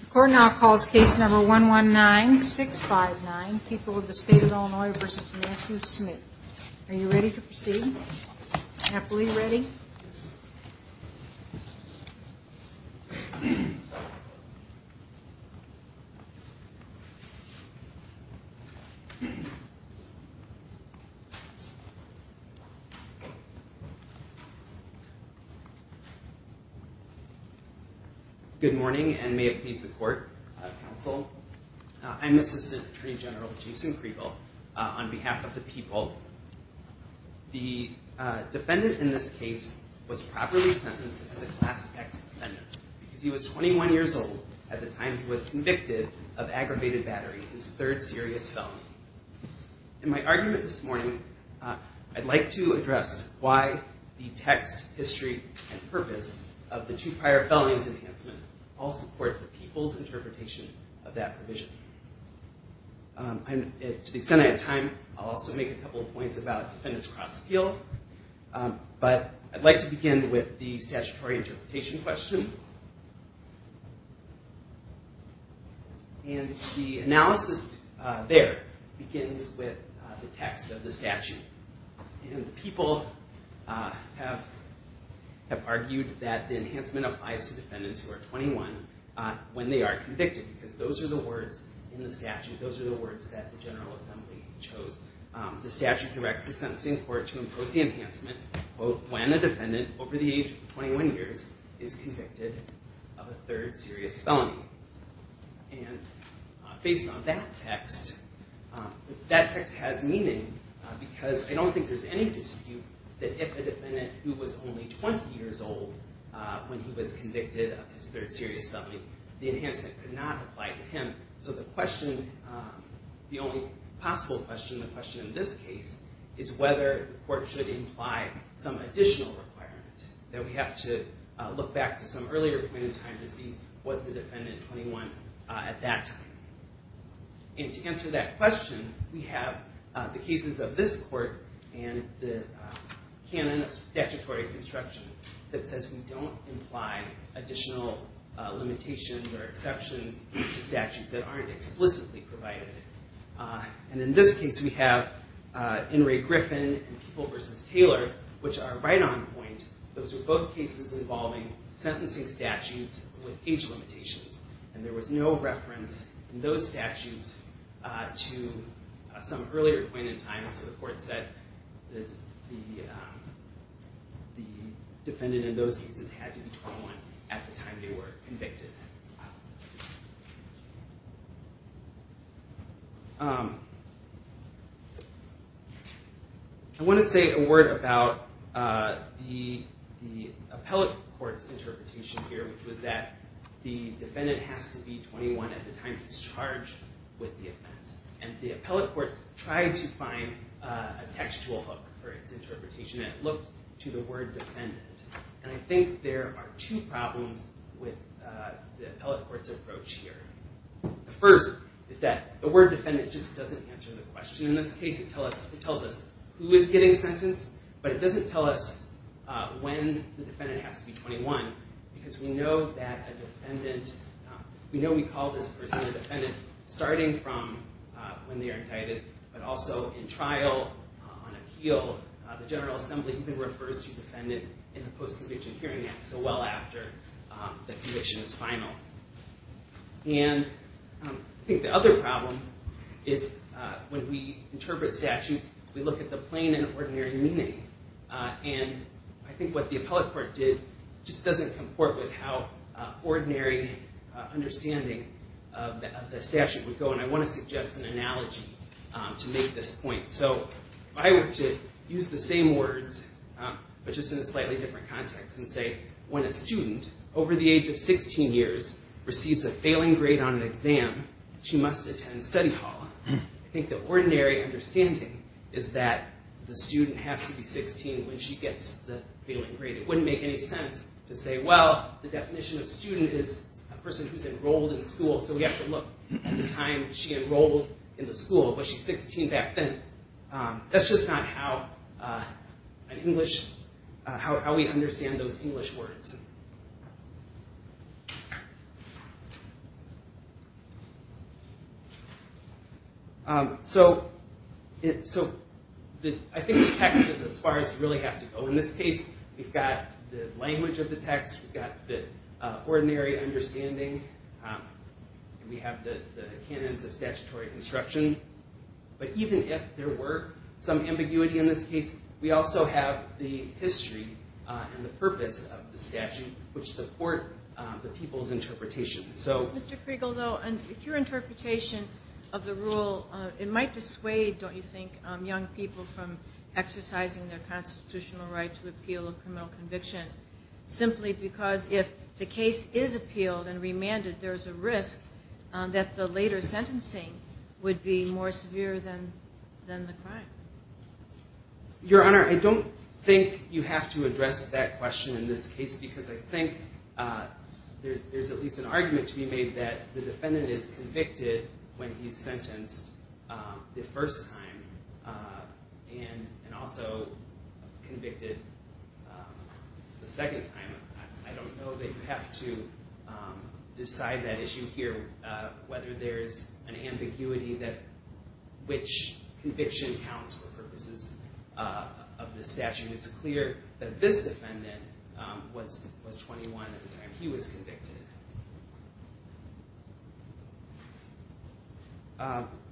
The court now calls case number 119-659, People of the State of Illinois v. Matthew Smith Are you ready to proceed? Happily ready? Good morning and may it please the court, counsel. I'm Assistant Attorney General Jason Kriegel. On behalf of the people, the defendant in this case was properly sentenced as a Class X defendant because he was 21 years old at the time he was convicted of aggravated battery, his third serious felony. In my argument this morning, I'd like to address why the text, history, and purpose of the two prior felonies enhancement all support the people's interpretation of that provision. To the extent I have time, I'll also make a couple of points about defendants cross-appeal. But I'd like to begin with the statutory interpretation question. And the analysis there begins with the text of the statute. And people have argued that the enhancement applies to defendants who are 21 when they are convicted because those are the words in the statute, those are the words that the General Assembly chose. The statute directs the sentencing court to impose the enhancement, quote, when a defendant over the age of 21 years is convicted of a third serious felony. And based on that text, that text has meaning because I don't think there's any dispute that if a defendant who was only 20 years old when he was convicted of his third serious felony, the enhancement could not apply to him. So the question, the only possible question, the question in this case, is whether the court should imply some additional requirement. That we have to look back to some earlier point in time to see was the defendant 21 at that time. And to answer that question, we have the cases of this court and the canon of statutory construction that says we don't imply additional limitations or exceptions to statutes that aren't explicitly provided. And in this case, we have In re Griffin and People v. Taylor, which are right on point. Those are both cases involving sentencing statutes with age limitations. And there was no reference in those statutes to some earlier point in time. So the court said that the defendant in those cases had to be 21 at the time they were convicted. I want to say a word about the appellate court's interpretation here, which was that the defendant has to be 21 at the time he's charged with the offense. And the appellate court tried to find a textual hook for its interpretation, and it looked to the word defendant. And I think there are two problems with the appellate court's approach here. The first is that the word defendant just doesn't answer the question. In this case, it tells us who is getting sentenced, but it doesn't tell us when the defendant has to be 21, because we know that a defendant, we know we call this person a defendant starting from when they are indicted, but also in trial on appeal, the General Assembly even refers to defendant in the Post-Conviction Hearing Act, not so well after the conviction is final. And I think the other problem is when we interpret statutes, we look at the plain and ordinary meaning. And I think what the appellate court did just doesn't comport with how ordinary understanding of the statute would go. And I want to suggest an analogy to make this point. So if I were to use the same words, but just in a slightly different context and say, when a student over the age of 16 years receives a failing grade on an exam, she must attend study hall. I think the ordinary understanding is that the student has to be 16 when she gets the failing grade. It wouldn't make any sense to say, well, the definition of student is a person who's enrolled in school, so we have to look at the time she enrolled in the school, but she's 16 back then. That's just not how we understand those English words. So I think the text is as far as you really have to go. In this case, we've got the language of the text, we've got the ordinary understanding, and we have the canons of statutory construction. But even if there were some ambiguity in this case, we also have the history and the purpose of the statute, which support the people's interpretation. Mr. Kriegel, though, if your interpretation of the rule, it might dissuade, don't you think, young people from exercising their constitutional right to appeal a criminal conviction, simply because if the case is appealed and remanded, there's a risk that the later sentencing would be more severe than the crime? Your Honor, I don't think you have to address that question in this case, because I think there's at least an argument to be made that the defendant is convicted when he's sentenced the first time, and also convicted the second time. I don't know that you have to decide that issue here, whether there's an ambiguity that which conviction counts for purposes of the statute. It's clear that this defendant was 21 at the time he was convicted.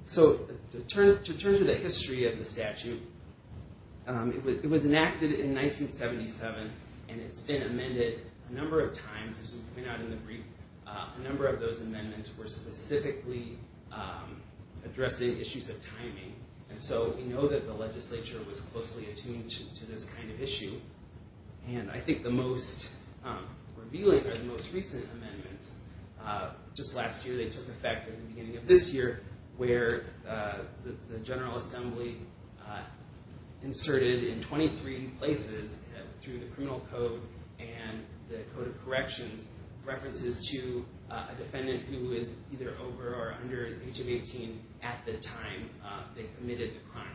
So to turn to the history of the statute, it was enacted in 1977, and it's been amended a number of times. As we pointed out in the brief, a number of those amendments were specifically addressing issues of timing. And so we know that the legislature was closely attuned to this kind of issue. And I think the most revealing are the most recent amendments. Just last year, they took effect at the beginning of this year, where the General Assembly inserted in 23 places, through the Criminal Code and the Code of Corrections, references to a defendant who is either over or under the age of 18 at the time they committed the crime.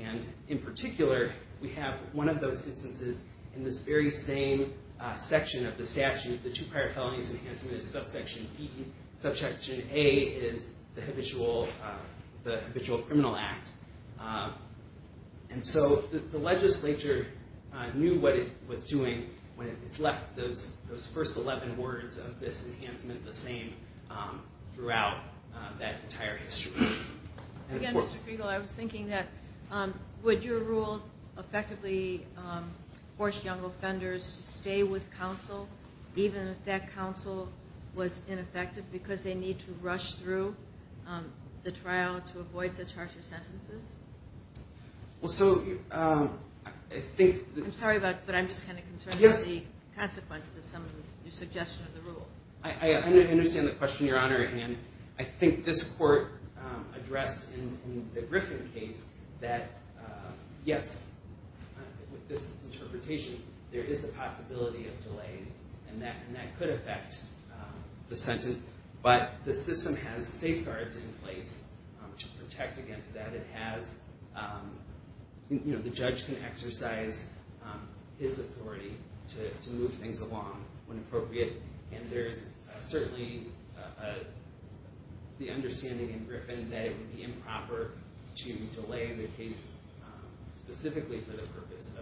And in particular, we have one of those instances in this very same section of the statute. The two prior felonies enhancement is subsection B. Subsection A is the habitual criminal act. And so the legislature knew what it was doing when it left those first 11 words of this enhancement the same throughout that entire history. Again, Mr. Fiegel, I was thinking that would your rules effectively force young offenders to stay with counsel, even if that counsel was ineffective, because they need to rush through the trial to avoid such harsher sentences? I'm sorry, but I'm just kind of concerned about the consequences of some of the suggestion of the rule. I understand the question, Your Honor. On the other hand, I think this court addressed in the Griffin case that, yes, with this interpretation, there is the possibility of delays, and that could affect the sentence. But the system has safeguards in place to protect against that. It has, you know, the judge can exercise his authority to move things along when appropriate. And there is certainly the understanding in Griffin that it would be improper to delay the case specifically for the purpose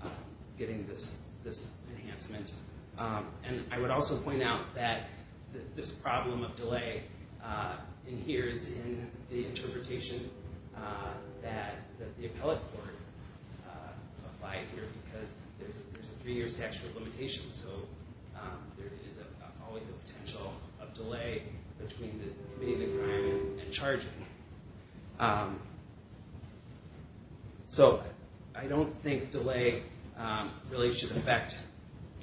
of getting this enhancement. And I would also point out that this problem of delay in here is in the interpretation that the appellate court applied here, because there's a three-year statute of limitations. So there is always a potential of delay between committing the crime and charging. So I don't think delay really should affect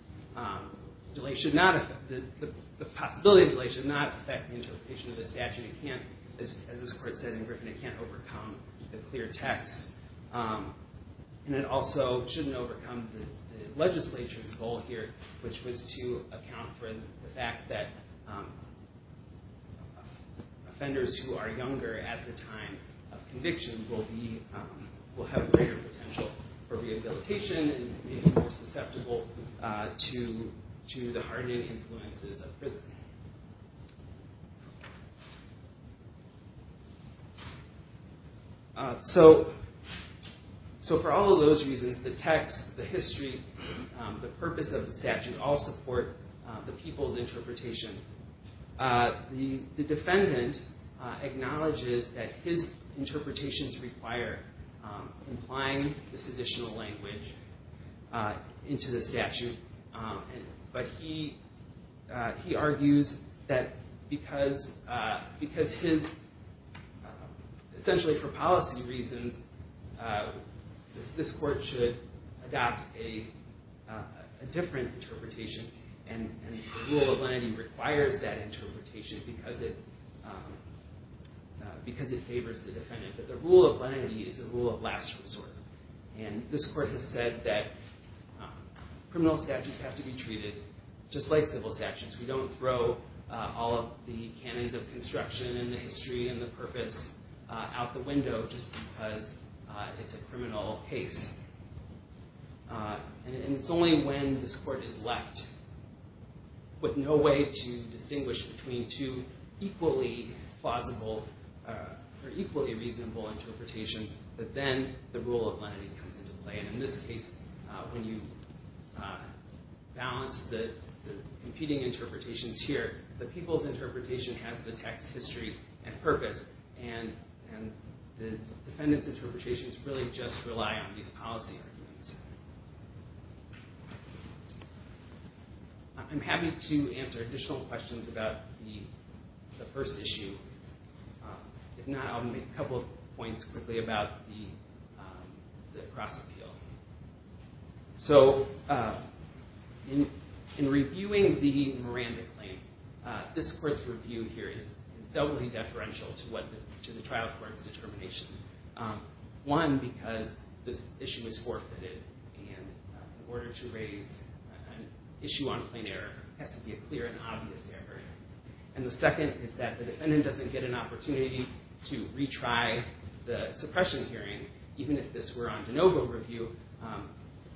– delay should not – the possibility of delay should not affect the interpretation of the statute. It can't, as this court said in Griffin, it can't overcome the clear text. And it also shouldn't overcome the legislature's goal here, which was to account for the fact that offenders who are younger at the time of conviction will be – will have greater potential for rehabilitation and may be more susceptible to the hardening influences of prison. So for all of those reasons, the text, the history, the purpose of the statute all support the people's interpretation. The defendant acknowledges that his interpretations require implying this additional language into the statute. But he argues that because his – essentially for policy reasons, this court should adopt a different interpretation. And the rule of lenity requires that interpretation because it favors the defendant. But the rule of lenity is the rule of last resort. And this court has said that criminal statutes have to be treated just like civil statutes. We don't throw all of the canons of construction and the history and the purpose out the window just because it's a criminal case. And it's only when this court is left with no way to distinguish between two equally plausible or equally reasonable interpretations that then the rule of lenity comes into play. And in this case, when you balance the competing interpretations here, the people's interpretation has the text, history, and purpose. And the defendant's interpretations really just rely on these policy arguments. I'm happy to answer additional questions about the first issue. If not, I'll make a couple of points quickly about the cross-appeal. So in reviewing the Miranda claim, this court's review here is doubly deferential to the trial court's determination. One, because this issue is forfeited. And in order to raise an issue on plain error, it has to be a clear and obvious error. And the second is that the defendant doesn't get an opportunity to retry the suppression hearing. Even if this were on de novo review,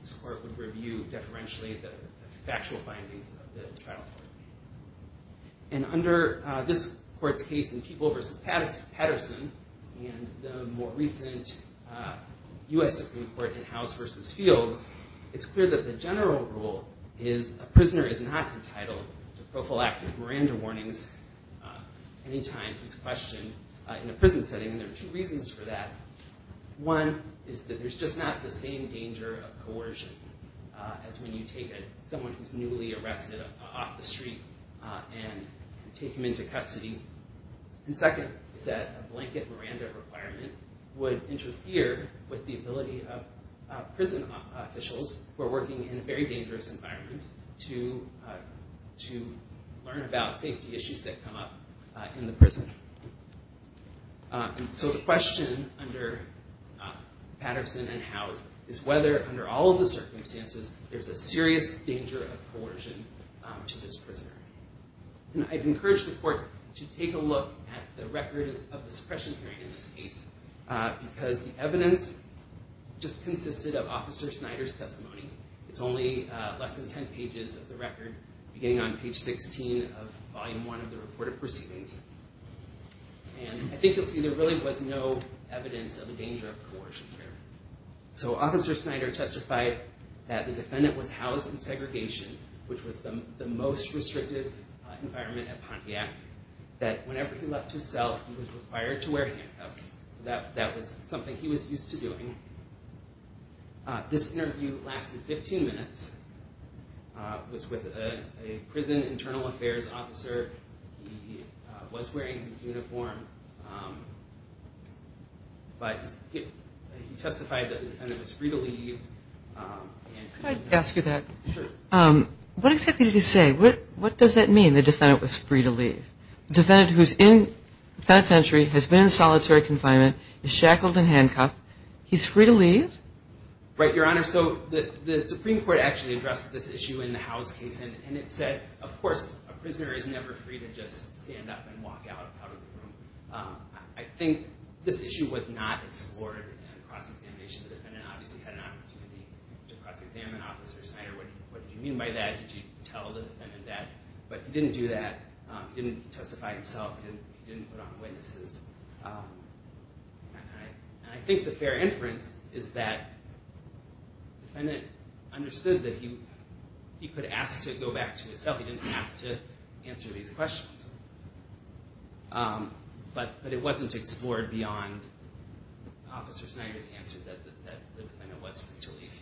this court would review deferentially the factual findings of the trial court. And under this court's case in People v. Patterson and the more recent U.S. Supreme Court in House v. Fields, it's clear that the general rule is a prisoner is not entitled to prophylactic Miranda warnings any time he's questioned in a prison setting. And there are two reasons for that. One is that there's just not the same danger of coercion as when you take someone who's newly arrested off the street and take him into custody. And second is that a blanket Miranda requirement would interfere with the ability of prison officials who are working in a very dangerous environment to learn about safety issues that come up in the prison. And so the question under Patterson and House is whether, under all of the circumstances, there's a serious danger of coercion to this prisoner. And I'd encourage the court to take a look at the record of the suppression hearing in this case, because the evidence just consisted of Officer Snyder's testimony. It's only less than 10 pages of the record, beginning on page 16 of volume one of the report of proceedings. And I think you'll see there really was no evidence of a danger of coercion here. So Officer Snyder testified that the defendant was housed in segregation, which was the most restrictive environment at Pontiac, that whenever he left his cell, he was required to wear handcuffs. So that was something he was used to doing. This interview lasted 15 minutes. It was with a prison internal affairs officer. He was wearing his uniform. But he testified that the defendant was free to leave. Could I ask you that? Sure. What exactly did he say? What does that mean, the defendant was free to leave? The defendant who's in penitentiary, has been in solitary confinement, is shackled and handcuffed. He's free to leave? Right, Your Honor. So the Supreme Court actually addressed this issue in the House case, and it said, of course, a prisoner is never free to just stand up and walk out of the room. I think this issue was not explored in cross-examination. The defendant obviously had an opportunity to cross-examine Officer Snyder. What did you mean by that? Did you tell the defendant that? But he didn't do that. He didn't testify himself. He didn't put on witnesses. And I think the fair inference is that the defendant understood that he could ask to go back to himself. He didn't have to answer these questions. But it wasn't explored beyond Officer Snyder's answer that the defendant was free to leave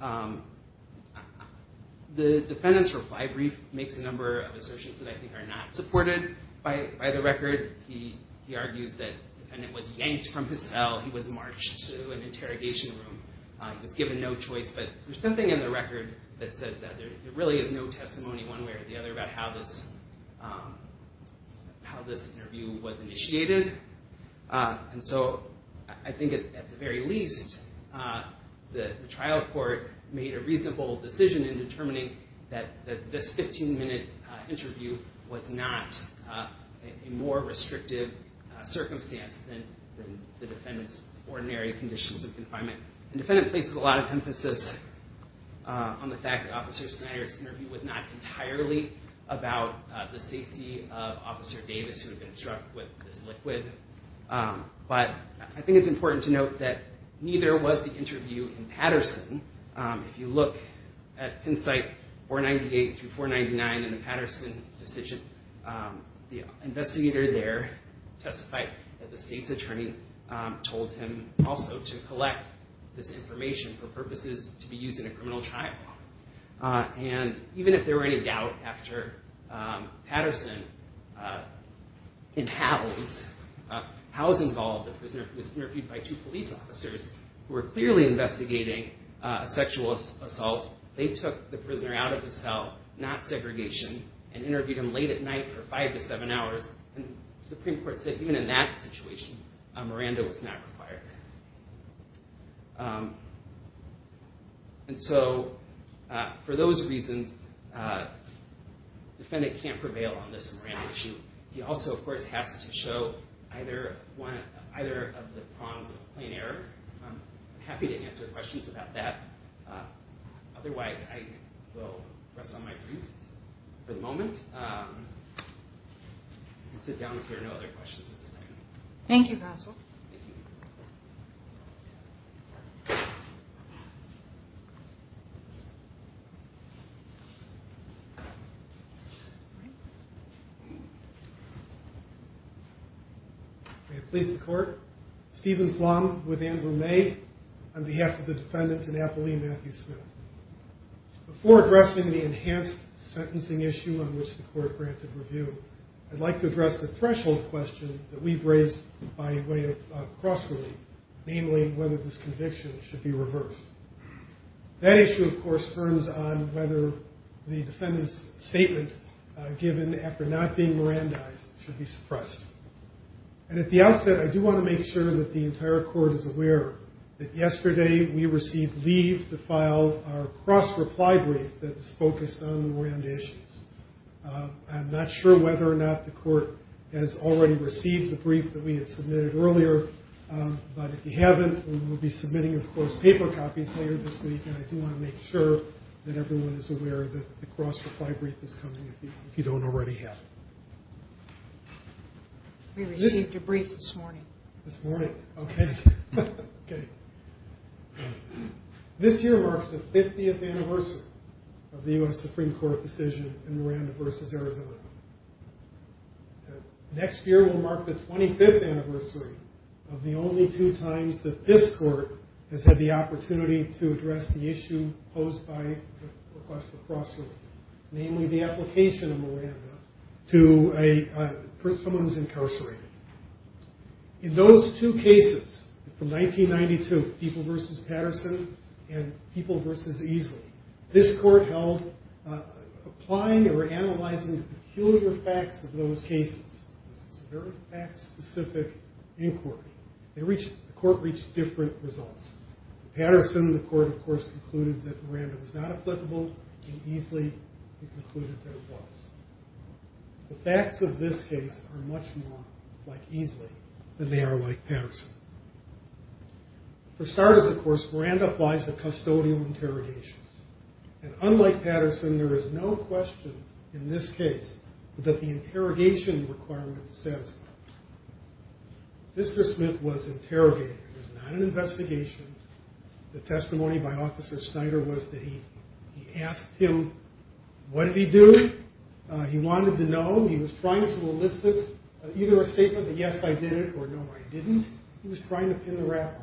here. The defendant's reply brief makes a number of assertions that I think are not supported by the record. He argues that the defendant was yanked from his cell. He was marched to an interrogation room. He was given no choice. But there's something in the record that says that. There really is no testimony one way or the other about how this interview was initiated. And so I think at the very least, the trial court made a reasonable decision in determining that this 15-minute interview was not a more restrictive circumstance than the defendant's ordinary conditions of confinement. The defendant places a lot of emphasis on the fact that Officer Snyder's interview was not entirely about the safety of Officer Davis, who had been struck with this liquid. But I think it's important to note that neither was the interview in Patterson. If you look at Penn site 498 through 499 in the Patterson decision, the investigator there testified that the state's attorney told him also to collect this information for purposes to be used in a criminal trial. And even if there were any doubt after Patterson and Howe's involvement, the prisoner was interviewed by two police officers who were clearly investigating a sexual assault. They took the prisoner out of the cell, not segregation, and interviewed him late at night for five to seven hours. And the Supreme Court said even in that situation, a Miranda was not required. And so for those reasons, the defendant can't prevail on this Miranda issue. He also, of course, has to show either of the prongs of plain error. I'm happy to answer questions about that. Otherwise, I will rest on my boots for the moment and sit down if there are no other questions at this time. Thank you, counsel. May it please the Court. Stephen Flom with Andrew May on behalf of the defendant, Annapoli Matthew Smith. Before addressing the enhanced sentencing issue on which the Court granted review, I'd like to address the threshold question that we've raised by way of cross-relief, namely whether this conviction should be reversed. That issue, of course, turns on whether the defendant's statement given after not being Mirandized should be suppressed. And at the outset, I do want to make sure that the entire Court is aware that yesterday we received leave to file our cross-reply brief that's focused on Miranda issues. I'm not sure whether or not the Court has already received the brief that we had submitted earlier. But if you haven't, we will be submitting, of course, paper copies later this week. And I do want to make sure that everyone is aware that the cross-reply brief is coming if you don't already have it. We received a brief this morning. This morning. Okay. Okay. This year marks the 50th anniversary of the U.S. Supreme Court decision in Miranda v. Arizona. Next year will mark the 25th anniversary of the only two times that this Court has had the opportunity to address the issue posed by request for cross-relief, namely the application of Miranda to someone who's incarcerated. In those two cases from 1992, People v. Patterson and People v. Easley, this Court held applying or analyzing the peculiar facts of those cases. This is a very fact-specific inquiry. The Court reached different results. Patterson, the Court, of course, concluded that Miranda was not applicable, and Easley concluded that it was. The facts of this case are much more like Easley than they are like Patterson. For starters, of course, Miranda applies to custodial interrogations. And unlike Patterson, there is no question in this case that the interrogation requirement says Mr. Smith was interrogated. It was not an investigation. The testimony by Officer Snyder was that he asked him what did he do. He wanted to know. He was trying to elicit either a statement that yes, I did it or no, I didn't. He was trying to pin the rap on him.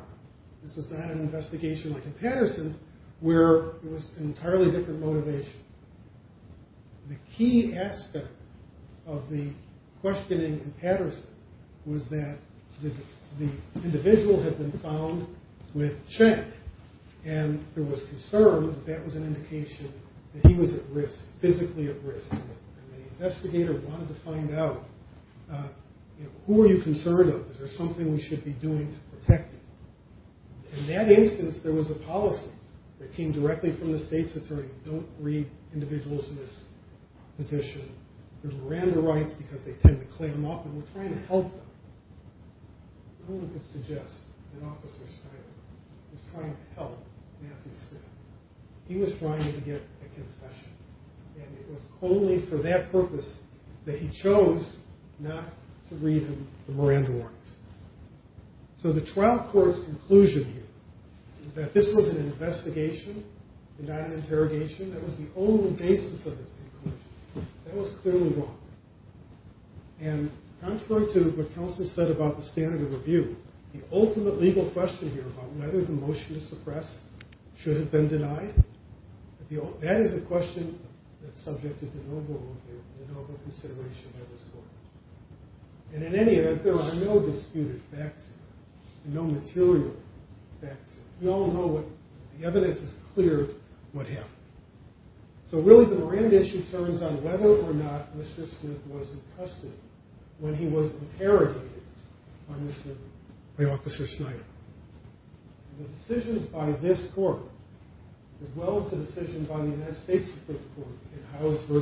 This was not an investigation like in Patterson where it was an entirely different motivation. The key aspect of the questioning in Patterson was that the individual had been found with check, and there was concern that that was an indication that he was at risk, physically at risk. And the investigator wanted to find out who are you concerned of? Is there something we should be doing to protect you? In that instance, there was a policy that came directly from the state's attorney. Don't read individuals in this position. Miranda writes because they tend to clam up, and we're trying to help them. No one could suggest that Officer Snyder was trying to help Matthew Smith. He was trying to get a confession, and it was only for that purpose that he chose not to read him the Miranda warnings. So the trial court's conclusion here that this was an investigation and not an interrogation, that was the only basis of its conclusion, that was clearly wrong. And contrary to what counsel said about the standard of review, the ultimate legal question here about whether the motion to suppress should have been denied, that is a question that's subject to de novo consideration by this court. And in any event, there are no disputed facts here, no material facts here. We all know what the evidence is clear of what happened. So really the Miranda issue turns on whether or not Mr. Smith was in custody when he was interrogated by Officer Snyder. The decisions by this court, as well as the decision by the United States Supreme Court in House v.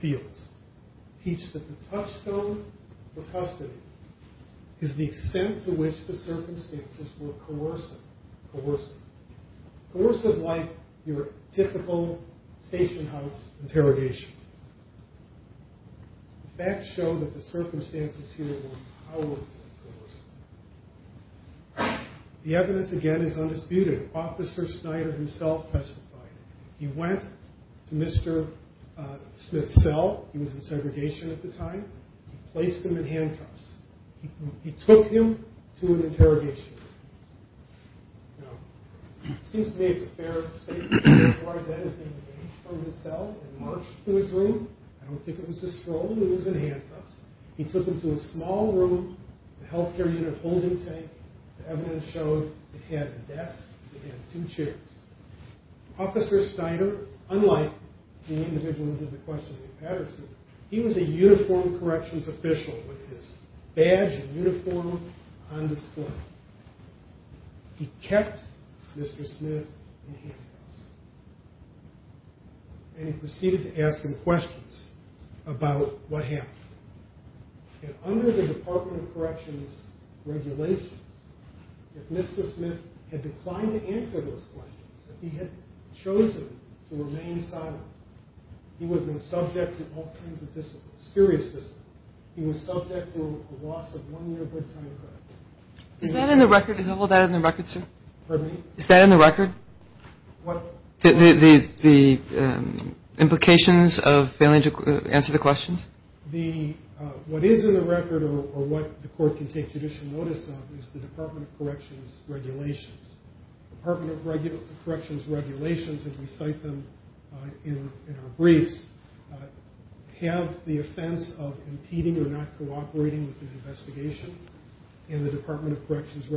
Fields, teach that the touchstone for custody is the extent to which the circumstances were coercive. Coercive like your typical station house interrogation. The facts show that the circumstances here were powerfully coercive. The evidence, again, is undisputed. Officer Snyder himself testified. He went to Mr. Smith's cell. He was in segregation at the time. He placed him in handcuffs. He took him to an interrogation. Now, it seems to me it's a fair statement. As far as that has been gained from his cell and marched through his room, I don't think it was a stroll. He was in handcuffs. He took him to a small room, a health care unit holding tank. The evidence showed he had a desk and two chairs. Officer Snyder, unlike the individual who did the questioning in Patterson, he was a uniformed corrections official with his badge and uniform on display. He kept Mr. Smith in handcuffs, and he proceeded to ask him questions about what happened. And under the Department of Corrections regulations, if Mr. Smith had declined to answer those questions, if he had chosen to remain silent, he would have been subject to all kinds of discipline, serious discipline. He was subject to a loss of one year good time credit. Is that in the record? Is all of that in the record, sir? Pardon me? Is that in the record? What? The implications of failing to answer the questions? What is in the record or what the court can take judicial notice of is the Department of Corrections regulations. The Department of Corrections regulations, as we cite them in our briefs, have the offense of impeding or not cooperating with an investigation, and the Department of Corrections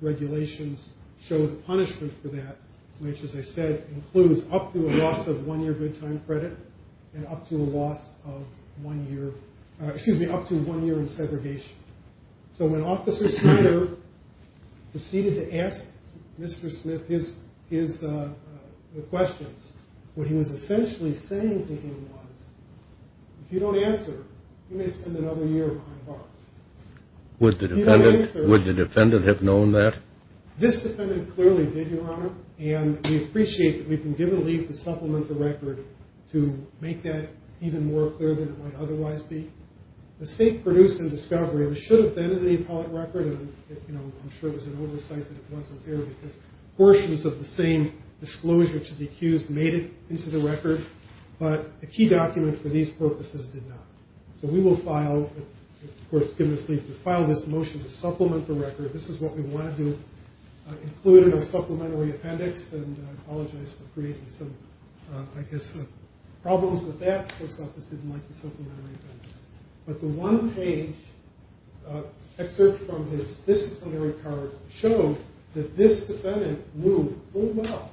regulations show the punishment for that, which, as I said, includes up to a loss of one year good time credit and up to a loss of one year in segregation. So when Officer Snyder proceeded to ask Mr. Smith his questions, what he was essentially saying to him was, if you don't answer, you may spend another year behind bars. Would the defendant have known that? This defendant clearly did, Your Honor, and we appreciate that we've been given leave to supplement the record to make that even more clear than it might otherwise be. The state produced in discovery that it should have been in the appellate record, and I'm sure there was an oversight that it wasn't there because portions of the same disclosure to the accused made it into the record, but a key document for these purposes did not. So we will file, of course, give us leave to file this motion to supplement the record. This is what we wanted to include in our supplementary appendix, and I apologize for creating some, I guess, problems with that. The Post Office didn't like the supplementary appendix. But the one page excerpt from his disciplinary card showed that this defendant knew full well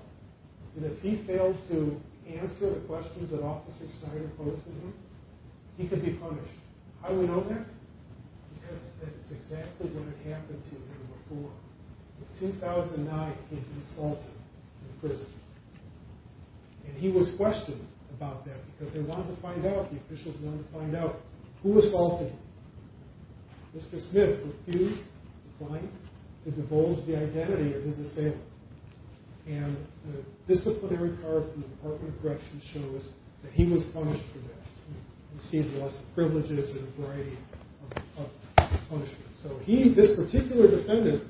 that if he failed to answer the questions that Officer Snyder posed to him, he could be punished. How do we know that? Because that's exactly what had happened to him before. In 2009, he'd been assaulted in prison, and he was questioned about that because they wanted to find out, the officials wanted to find out, who assaulted him. Mr. Smith refused to decline to divulge the identity of his assailant, and the disciplinary card from the Department of Corrections shows that he was punished for that. We see the loss of privileges and a variety of punishments. So he, this particular defendant,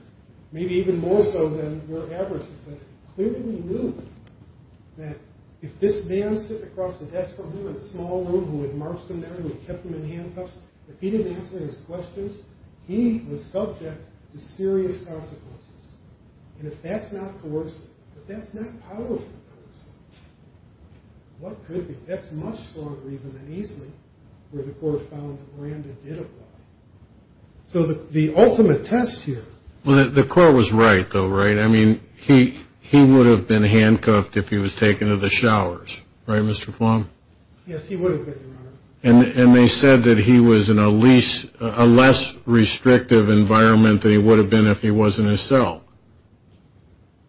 maybe even more so than we're averaging, but he clearly knew that if this man sitting across the desk from him in a small room who had marched him there and kept him in handcuffs, if he didn't answer his questions, he was subject to serious consequences. And if that's not coercive, if that's not powerful coercive, what could be? That's much stronger, even, than easily, where the court found that Miranda did apply. So the ultimate test here. Well, the court was right, though, right? I mean, he would have been handcuffed if he was taken to the showers, right, Mr. Fong? Yes, he would have been, Your Honor. And they said that he was in a less restrictive environment than he would have been if he was in his cell.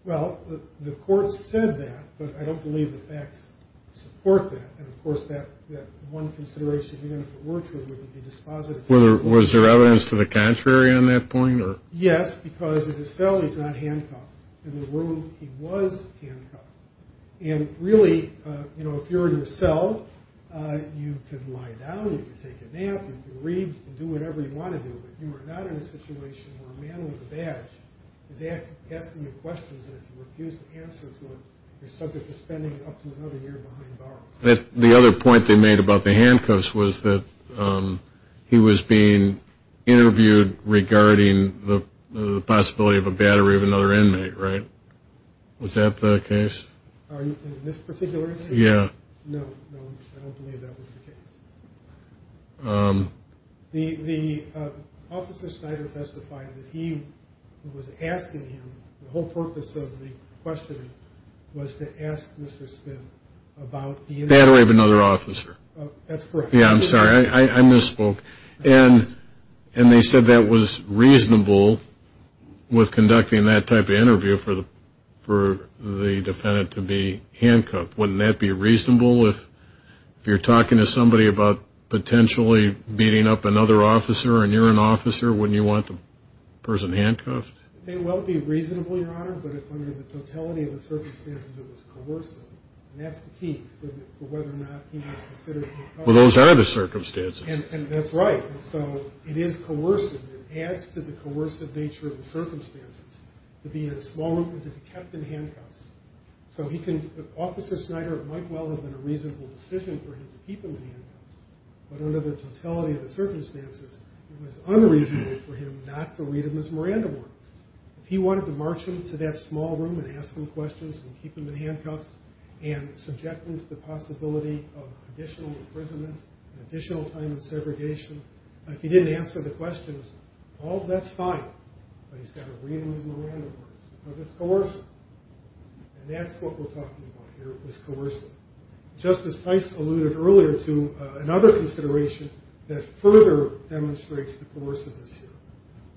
Well, the court said that, but I don't believe the facts support that. And, of course, that one consideration, even if it were true, wouldn't be dispositive. Was there evidence to the contrary on that point? Yes, because in his cell he's not handcuffed. In the room he was handcuffed. And really, you know, if you're in your cell, you can lie down, you can take a nap, you can read, you can do whatever you want to do, but you are not in a situation where a man with a badge is asking you questions and if you refuse to answer to him, you're subject to spending up to another year behind bars. The other point they made about the handcuffs was that he was being interviewed regarding the possibility of a battery of another inmate, right? Was that the case? In this particular instance? Yeah. No, no, I don't believe that was the case. The officer Snyder testified that he was asking him, the whole purpose of the questioning was to ask Mr. Smith about the inmate. Battery of another officer. That's correct. Yeah, I'm sorry, I misspoke. And they said that was reasonable with conducting that type of interview for the defendant to be handcuffed. Wouldn't that be reasonable if you're talking to somebody about potentially beating up another officer and you're an officer, wouldn't you want the person handcuffed? It may well be reasonable, Your Honor, but under the totality of the circumstances, it was coercive, and that's the key for whether or not he was considered handcuffed. Well, those are the circumstances. And that's right. And so it is coercive. Officer Snyder might well have been a reasonable decision for him to keep him in handcuffs, but under the totality of the circumstances, it was unreasonable for him not to read him his Miranda words. If he wanted to march him to that small room and ask him questions and keep him in handcuffs and subject him to the possibility of additional imprisonment, additional time in segregation, if he didn't answer the questions, that's fine, but he's got to read him his Miranda words because it's coercive. And that's what we're talking about here, is coercive. Justice Tice alluded earlier to another consideration that further demonstrates the coerciveness here.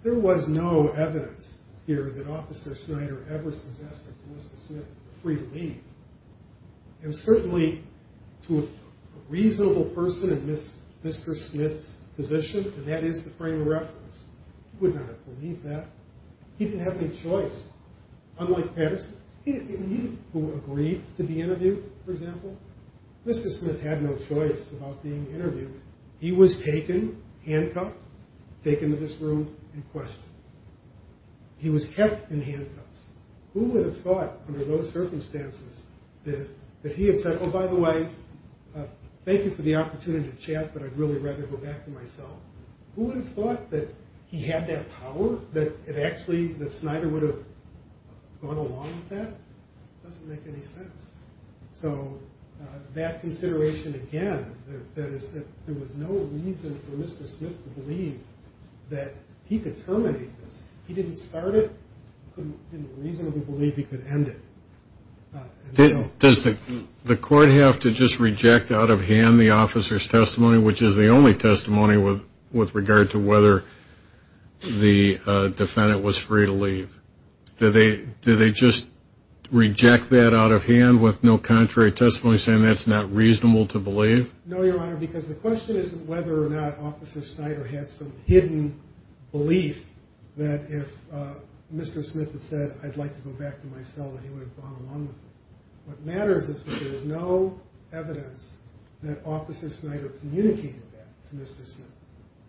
There was no evidence here that Officer Snyder ever suggested to Mr. Smith free to leave. And certainly to a reasonable person in Mr. Smith's position, and that is the frame of reference, he would not have believed that. He didn't have any choice. Unlike Patterson, who agreed to be interviewed, for example, Mr. Smith had no choice about being interviewed. He was taken, handcuffed, taken to this room and questioned. He was kept in handcuffs. Who would have thought under those circumstances that he had said, oh, by the way, thank you for the opportunity to chat, but I'd really rather go back to myself. Who would have thought that he had that power, that actually that Snyder would have gone along with that? It doesn't make any sense. So that consideration again, there was no reason for Mr. Smith to believe that he could terminate this. He didn't start it. He didn't reasonably believe he could end it. Does the court have to just reject out of hand the officer's testimony, which is the only testimony with regard to whether the defendant was free to leave? Do they just reject that out of hand with no contrary testimony saying that's not reasonable to believe? No, Your Honor, because the question isn't whether or not Officer Snyder had some hidden belief that if Mr. What matters is that there is no evidence that Officer Snyder communicated that to Mr. Smith.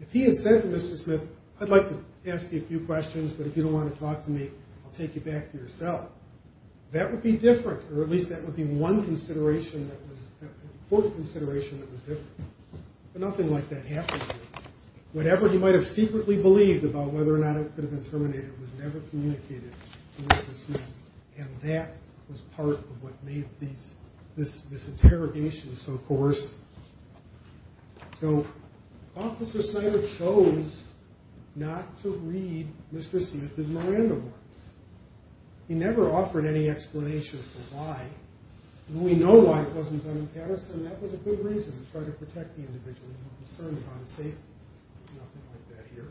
If he had said to Mr. Smith, I'd like to ask you a few questions, but if you don't want to talk to me, I'll take you back to yourself, that would be different, or at least that would be one consideration that was an important consideration that was different. But nothing like that happened here. Whatever he might have secretly believed about whether or not it could have been terminated was never communicated to Mr. Smith, and that was part of what made this interrogation so coercive. So Officer Snyder chose not to read Mr. Smith's Miranda warrants. He never offered any explanation for why, and we know why it wasn't done in Patterson. That was a good reason to try to protect the individual. We're concerned about his safety. Nothing like that here.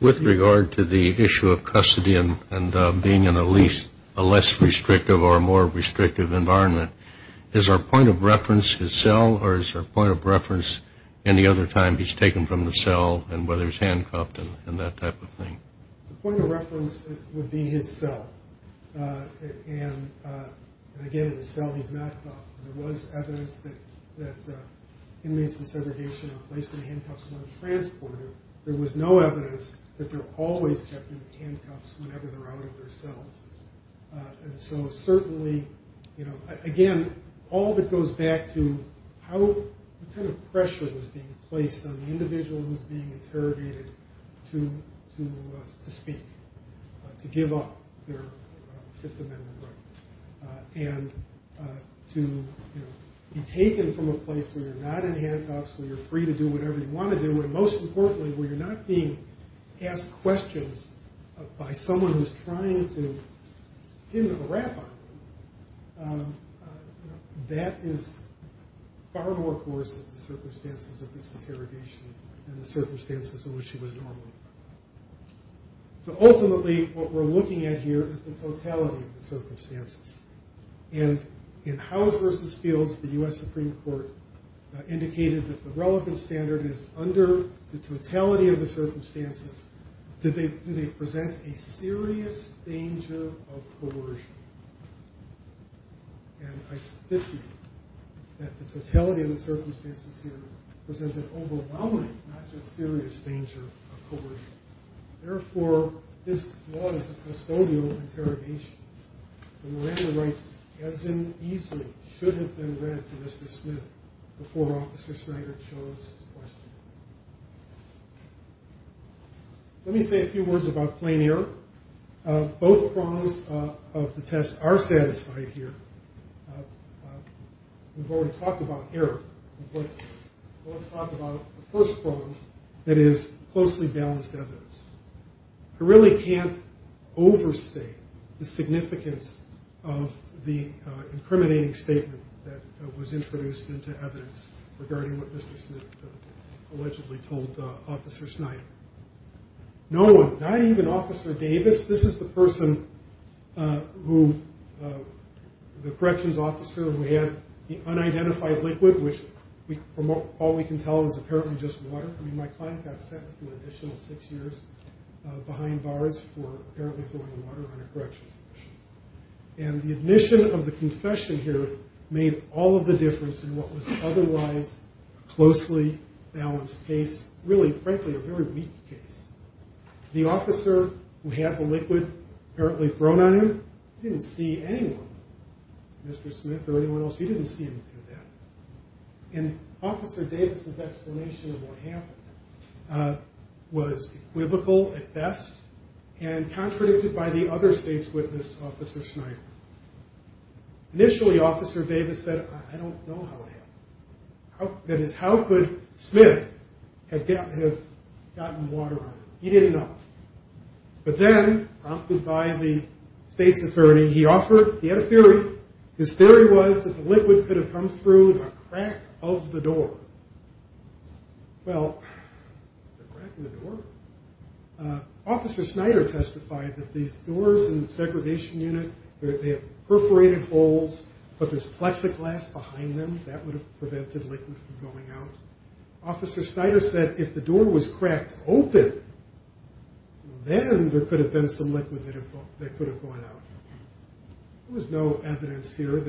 With regard to the issue of custody and being in a less restrictive or a more restrictive environment, is our point of reference his cell, or is our point of reference any other time he's taken from the cell and whether he's handcuffed and that type of thing? The point of reference would be his cell, and again, in the cell he's not cuffed. There was evidence that inmates in segregation are placed in handcuffs when transported. There was no evidence that they're always kept in handcuffs whenever they're out of their cells. And so certainly, again, all of it goes back to what kind of pressure was being placed on the individual who was being interrogated to speak, to give up their Fifth Amendment right, and to be taken from a place where you're not in handcuffs, where you're free to do whatever you want to do, and most importantly, where you're not being asked questions by someone who's trying to give them a rap on you. That is far more coercive of the circumstances of this interrogation than the circumstances in which he was normally. So ultimately, what we're looking at here is the totality of the circumstances. And in House versus Fields, the U.S. Supreme Court indicated that the relevant standard is under the totality of the circumstances. Do they present a serious danger of coercion? And I submit to you that the totality of the circumstances here presented overwhelming, not just serious danger of coercion. Therefore, this was a custodial interrogation, and Miranda writes, as in easily should have been read to Mr. Smith before Officer Snyder chose to question him. Let me say a few words about plain error. Both prongs of the test are satisfied here. We've already talked about error. Let's talk about the first prong that is closely balanced evidence. I really can't overstate the significance of the incriminating statement that was introduced into evidence regarding what Mr. Smith allegedly told Officer Snyder. No one, not even Officer Davis. This is the person who, the corrections officer who had the unidentified liquid, which from all we can tell is apparently just water. I mean, my client got sentenced to an additional six years behind bars for apparently throwing water on a corrections official. And the admission of the confession here made all of the difference in what was otherwise a closely balanced case, really, frankly, a very weak case. The officer who had the liquid apparently thrown on him didn't see anyone, Mr. Smith or anyone else. He didn't see him do that. And Officer Davis's explanation of what happened was equivocal at best and contradicted by the other state's witness, Officer Snyder. Initially, Officer Davis said, I don't know how it happened. That is, how could Smith have gotten water on him? He didn't know. But then, prompted by the state's attorney, he had a theory. His theory was that the liquid could have come through the crack of the door. Well, the crack of the door? Officer Snyder testified that these doors in the segregation unit, they have perforated holes, but there's plexiglass behind them. That would have prevented liquid from going out. Officer Snyder said if the door was cracked open, then there could have been some liquid that could have gone out. There was no evidence here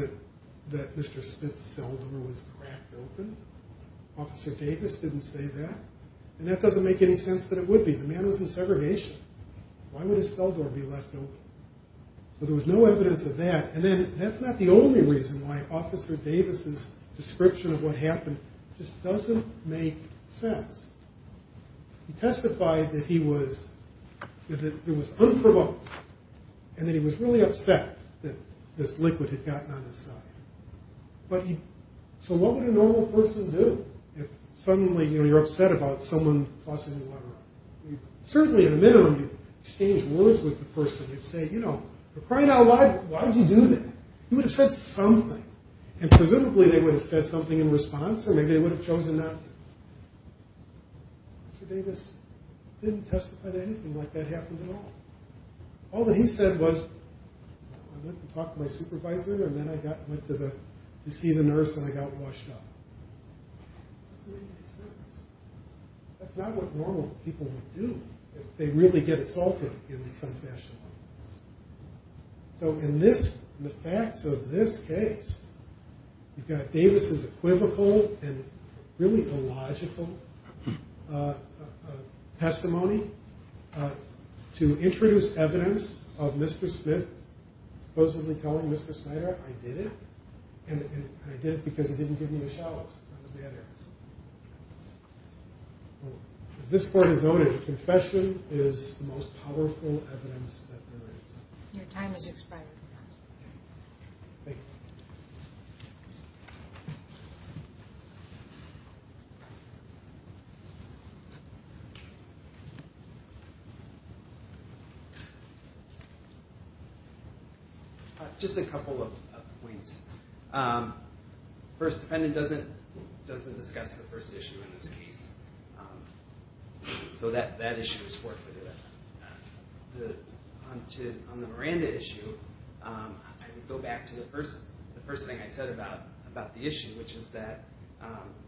that Mr. Smith's cell door was cracked open. Officer Davis didn't say that. And that doesn't make any sense that it would be. The man was in segregation. Why would his cell door be left open? So there was no evidence of that. And that's not the only reason why Officer Davis's description of what happened just doesn't make sense. He testified that he was unprovoked, and that he was really upset that this liquid had gotten on his side. So what would a normal person do if suddenly you're upset about someone tossing the water out? Certainly, in a minimum, you'd exchange words with the person. You'd say, you know, for crying out loud, why did you do that? You would have said something. And presumably, they would have said something in response, or maybe they would have chosen not to. Mr. Davis didn't testify that anything like that happened at all. All that he said was, I went to talk to my supervisor, and then I went to see the nurse, and I got washed up. That doesn't make any sense. That's not what normal people would do if they really get assaulted in some fashion like this. So in the facts of this case, you've got Davis's equivocal and really illogical testimony to introduce evidence of Mr. Smith supposedly telling Mr. Snyder, I did it, and I did it because he didn't give me a shower. As this court has noted, confession is the most powerful evidence that there is. Your time has expired. Thank you. Just a couple of points. First, the defendant doesn't discuss the first issue in this case. So that issue is forfeited. On the Miranda issue, I would go back to the first thing I said about the issue, which is that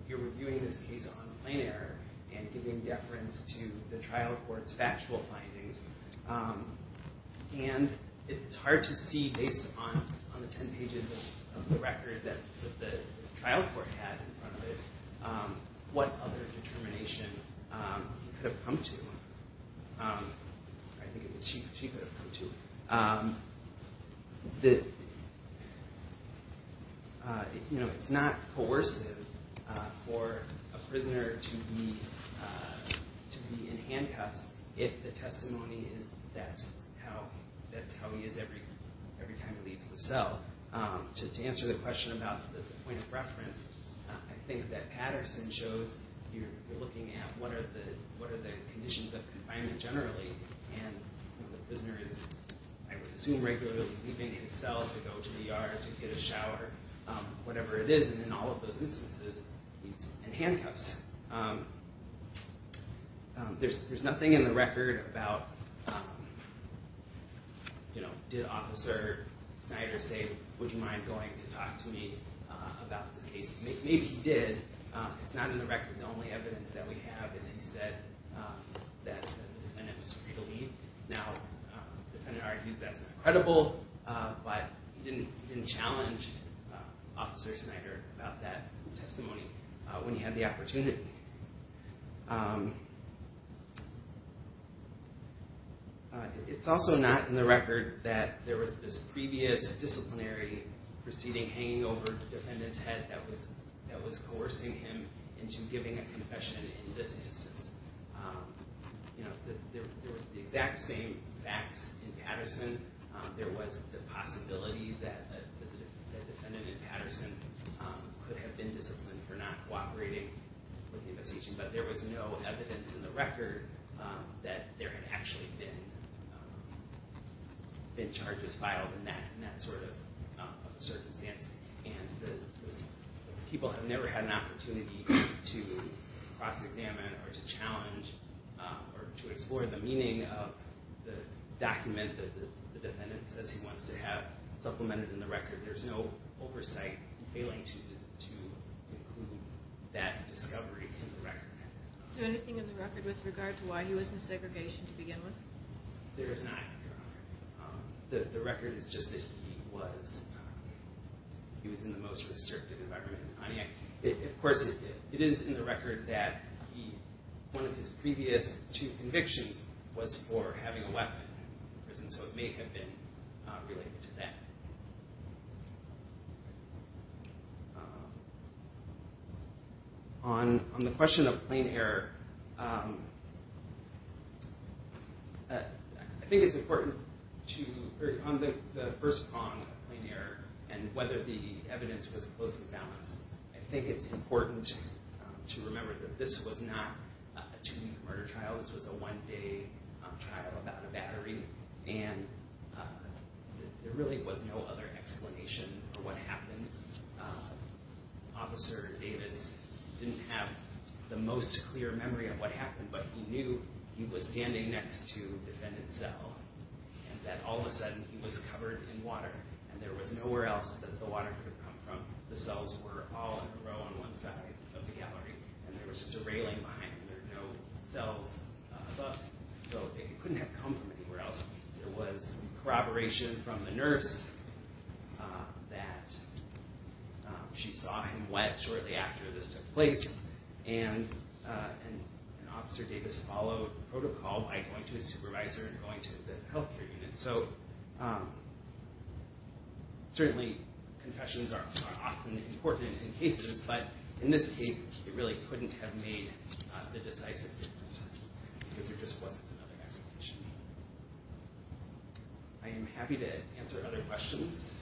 you're reviewing this case on plain error and giving deference to the trial court's factual findings. And it's hard to see, based on the ten pages of the record that the trial court had in front of it, what other determination he could have come to, or I think it was she could have come to. It's not coercive for a prisoner to be in handcuffs if the testimony is that's how he is every time he leaves the cell. To answer the question about the point of reference, I think that Patterson shows you're looking at what are the conditions of confinement generally, and the prisoner is, I would assume, regularly leaving his cell to go to the yard to get a shower, whatever it is, and in all of those instances, he's in handcuffs. There's nothing in the record about, did Officer Snyder say, would you mind going to talk to me about this case? Maybe he did. It's not in the record. The only evidence that we have is he said that the defendant was free to leave. Now, the defendant argues that's not credible, but he didn't challenge Officer Snyder about that testimony. When he had the opportunity. It's also not in the record that there was this previous disciplinary proceeding hanging over the defendant's head that was coercing him into giving a confession in this instance. There was the exact same facts in Patterson. There was the possibility that the defendant in Patterson could have been disciplined for not cooperating with the investigation, but there was no evidence in the record that there had actually been charges filed in that sort of circumstance, and people have never had an opportunity to cross-examine or to challenge or to explore the meaning of the document that the defendant says he wants to have supplemented in the record. There's no oversight failing to include that discovery in the record. Is there anything in the record with regard to why he was in segregation to begin with? There is not, Your Honor. The record is just that he was in the most restrictive environment. Of course, it is in the record that one of his previous two convictions was for having a weapon in prison, so it may have been related to that. On the question of plain error, I think it's important to, on the first prong of plain error and whether the evidence was closely balanced, I think it's important to remember that this was not a two-week murder trial. This was a one-day trial about a battery, and there really was no other explanation for what happened. Officer Davis didn't have the most clear memory of what happened, but he knew he was standing next to the defendant's cell and that all of a sudden he was covered in water and there was nowhere else that the water could have come from. The cells were all in a row on one side of the gallery, and there was just a railing behind him. There were no cells above him, so it couldn't have come from anywhere else. There was corroboration from the nurse that she saw him wet shortly after this took place, and Officer Davis followed protocol by going to his supervisor and going to the health care unit. So certainly confessions are often important in cases, but in this case it really couldn't have made the decisive difference because there just wasn't another explanation. I am happy to answer other questions.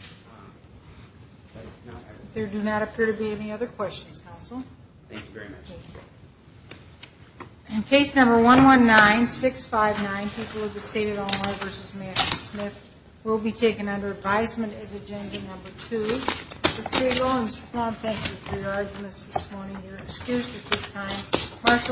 There do not appear to be any other questions, Counsel. Thank you very much. Thank you. In case number 119659, people of the state of Illinois v. Matthew Smith, will be taken under advisement as agenda number two. Thank you for your arguments this morning. You're excused at this time.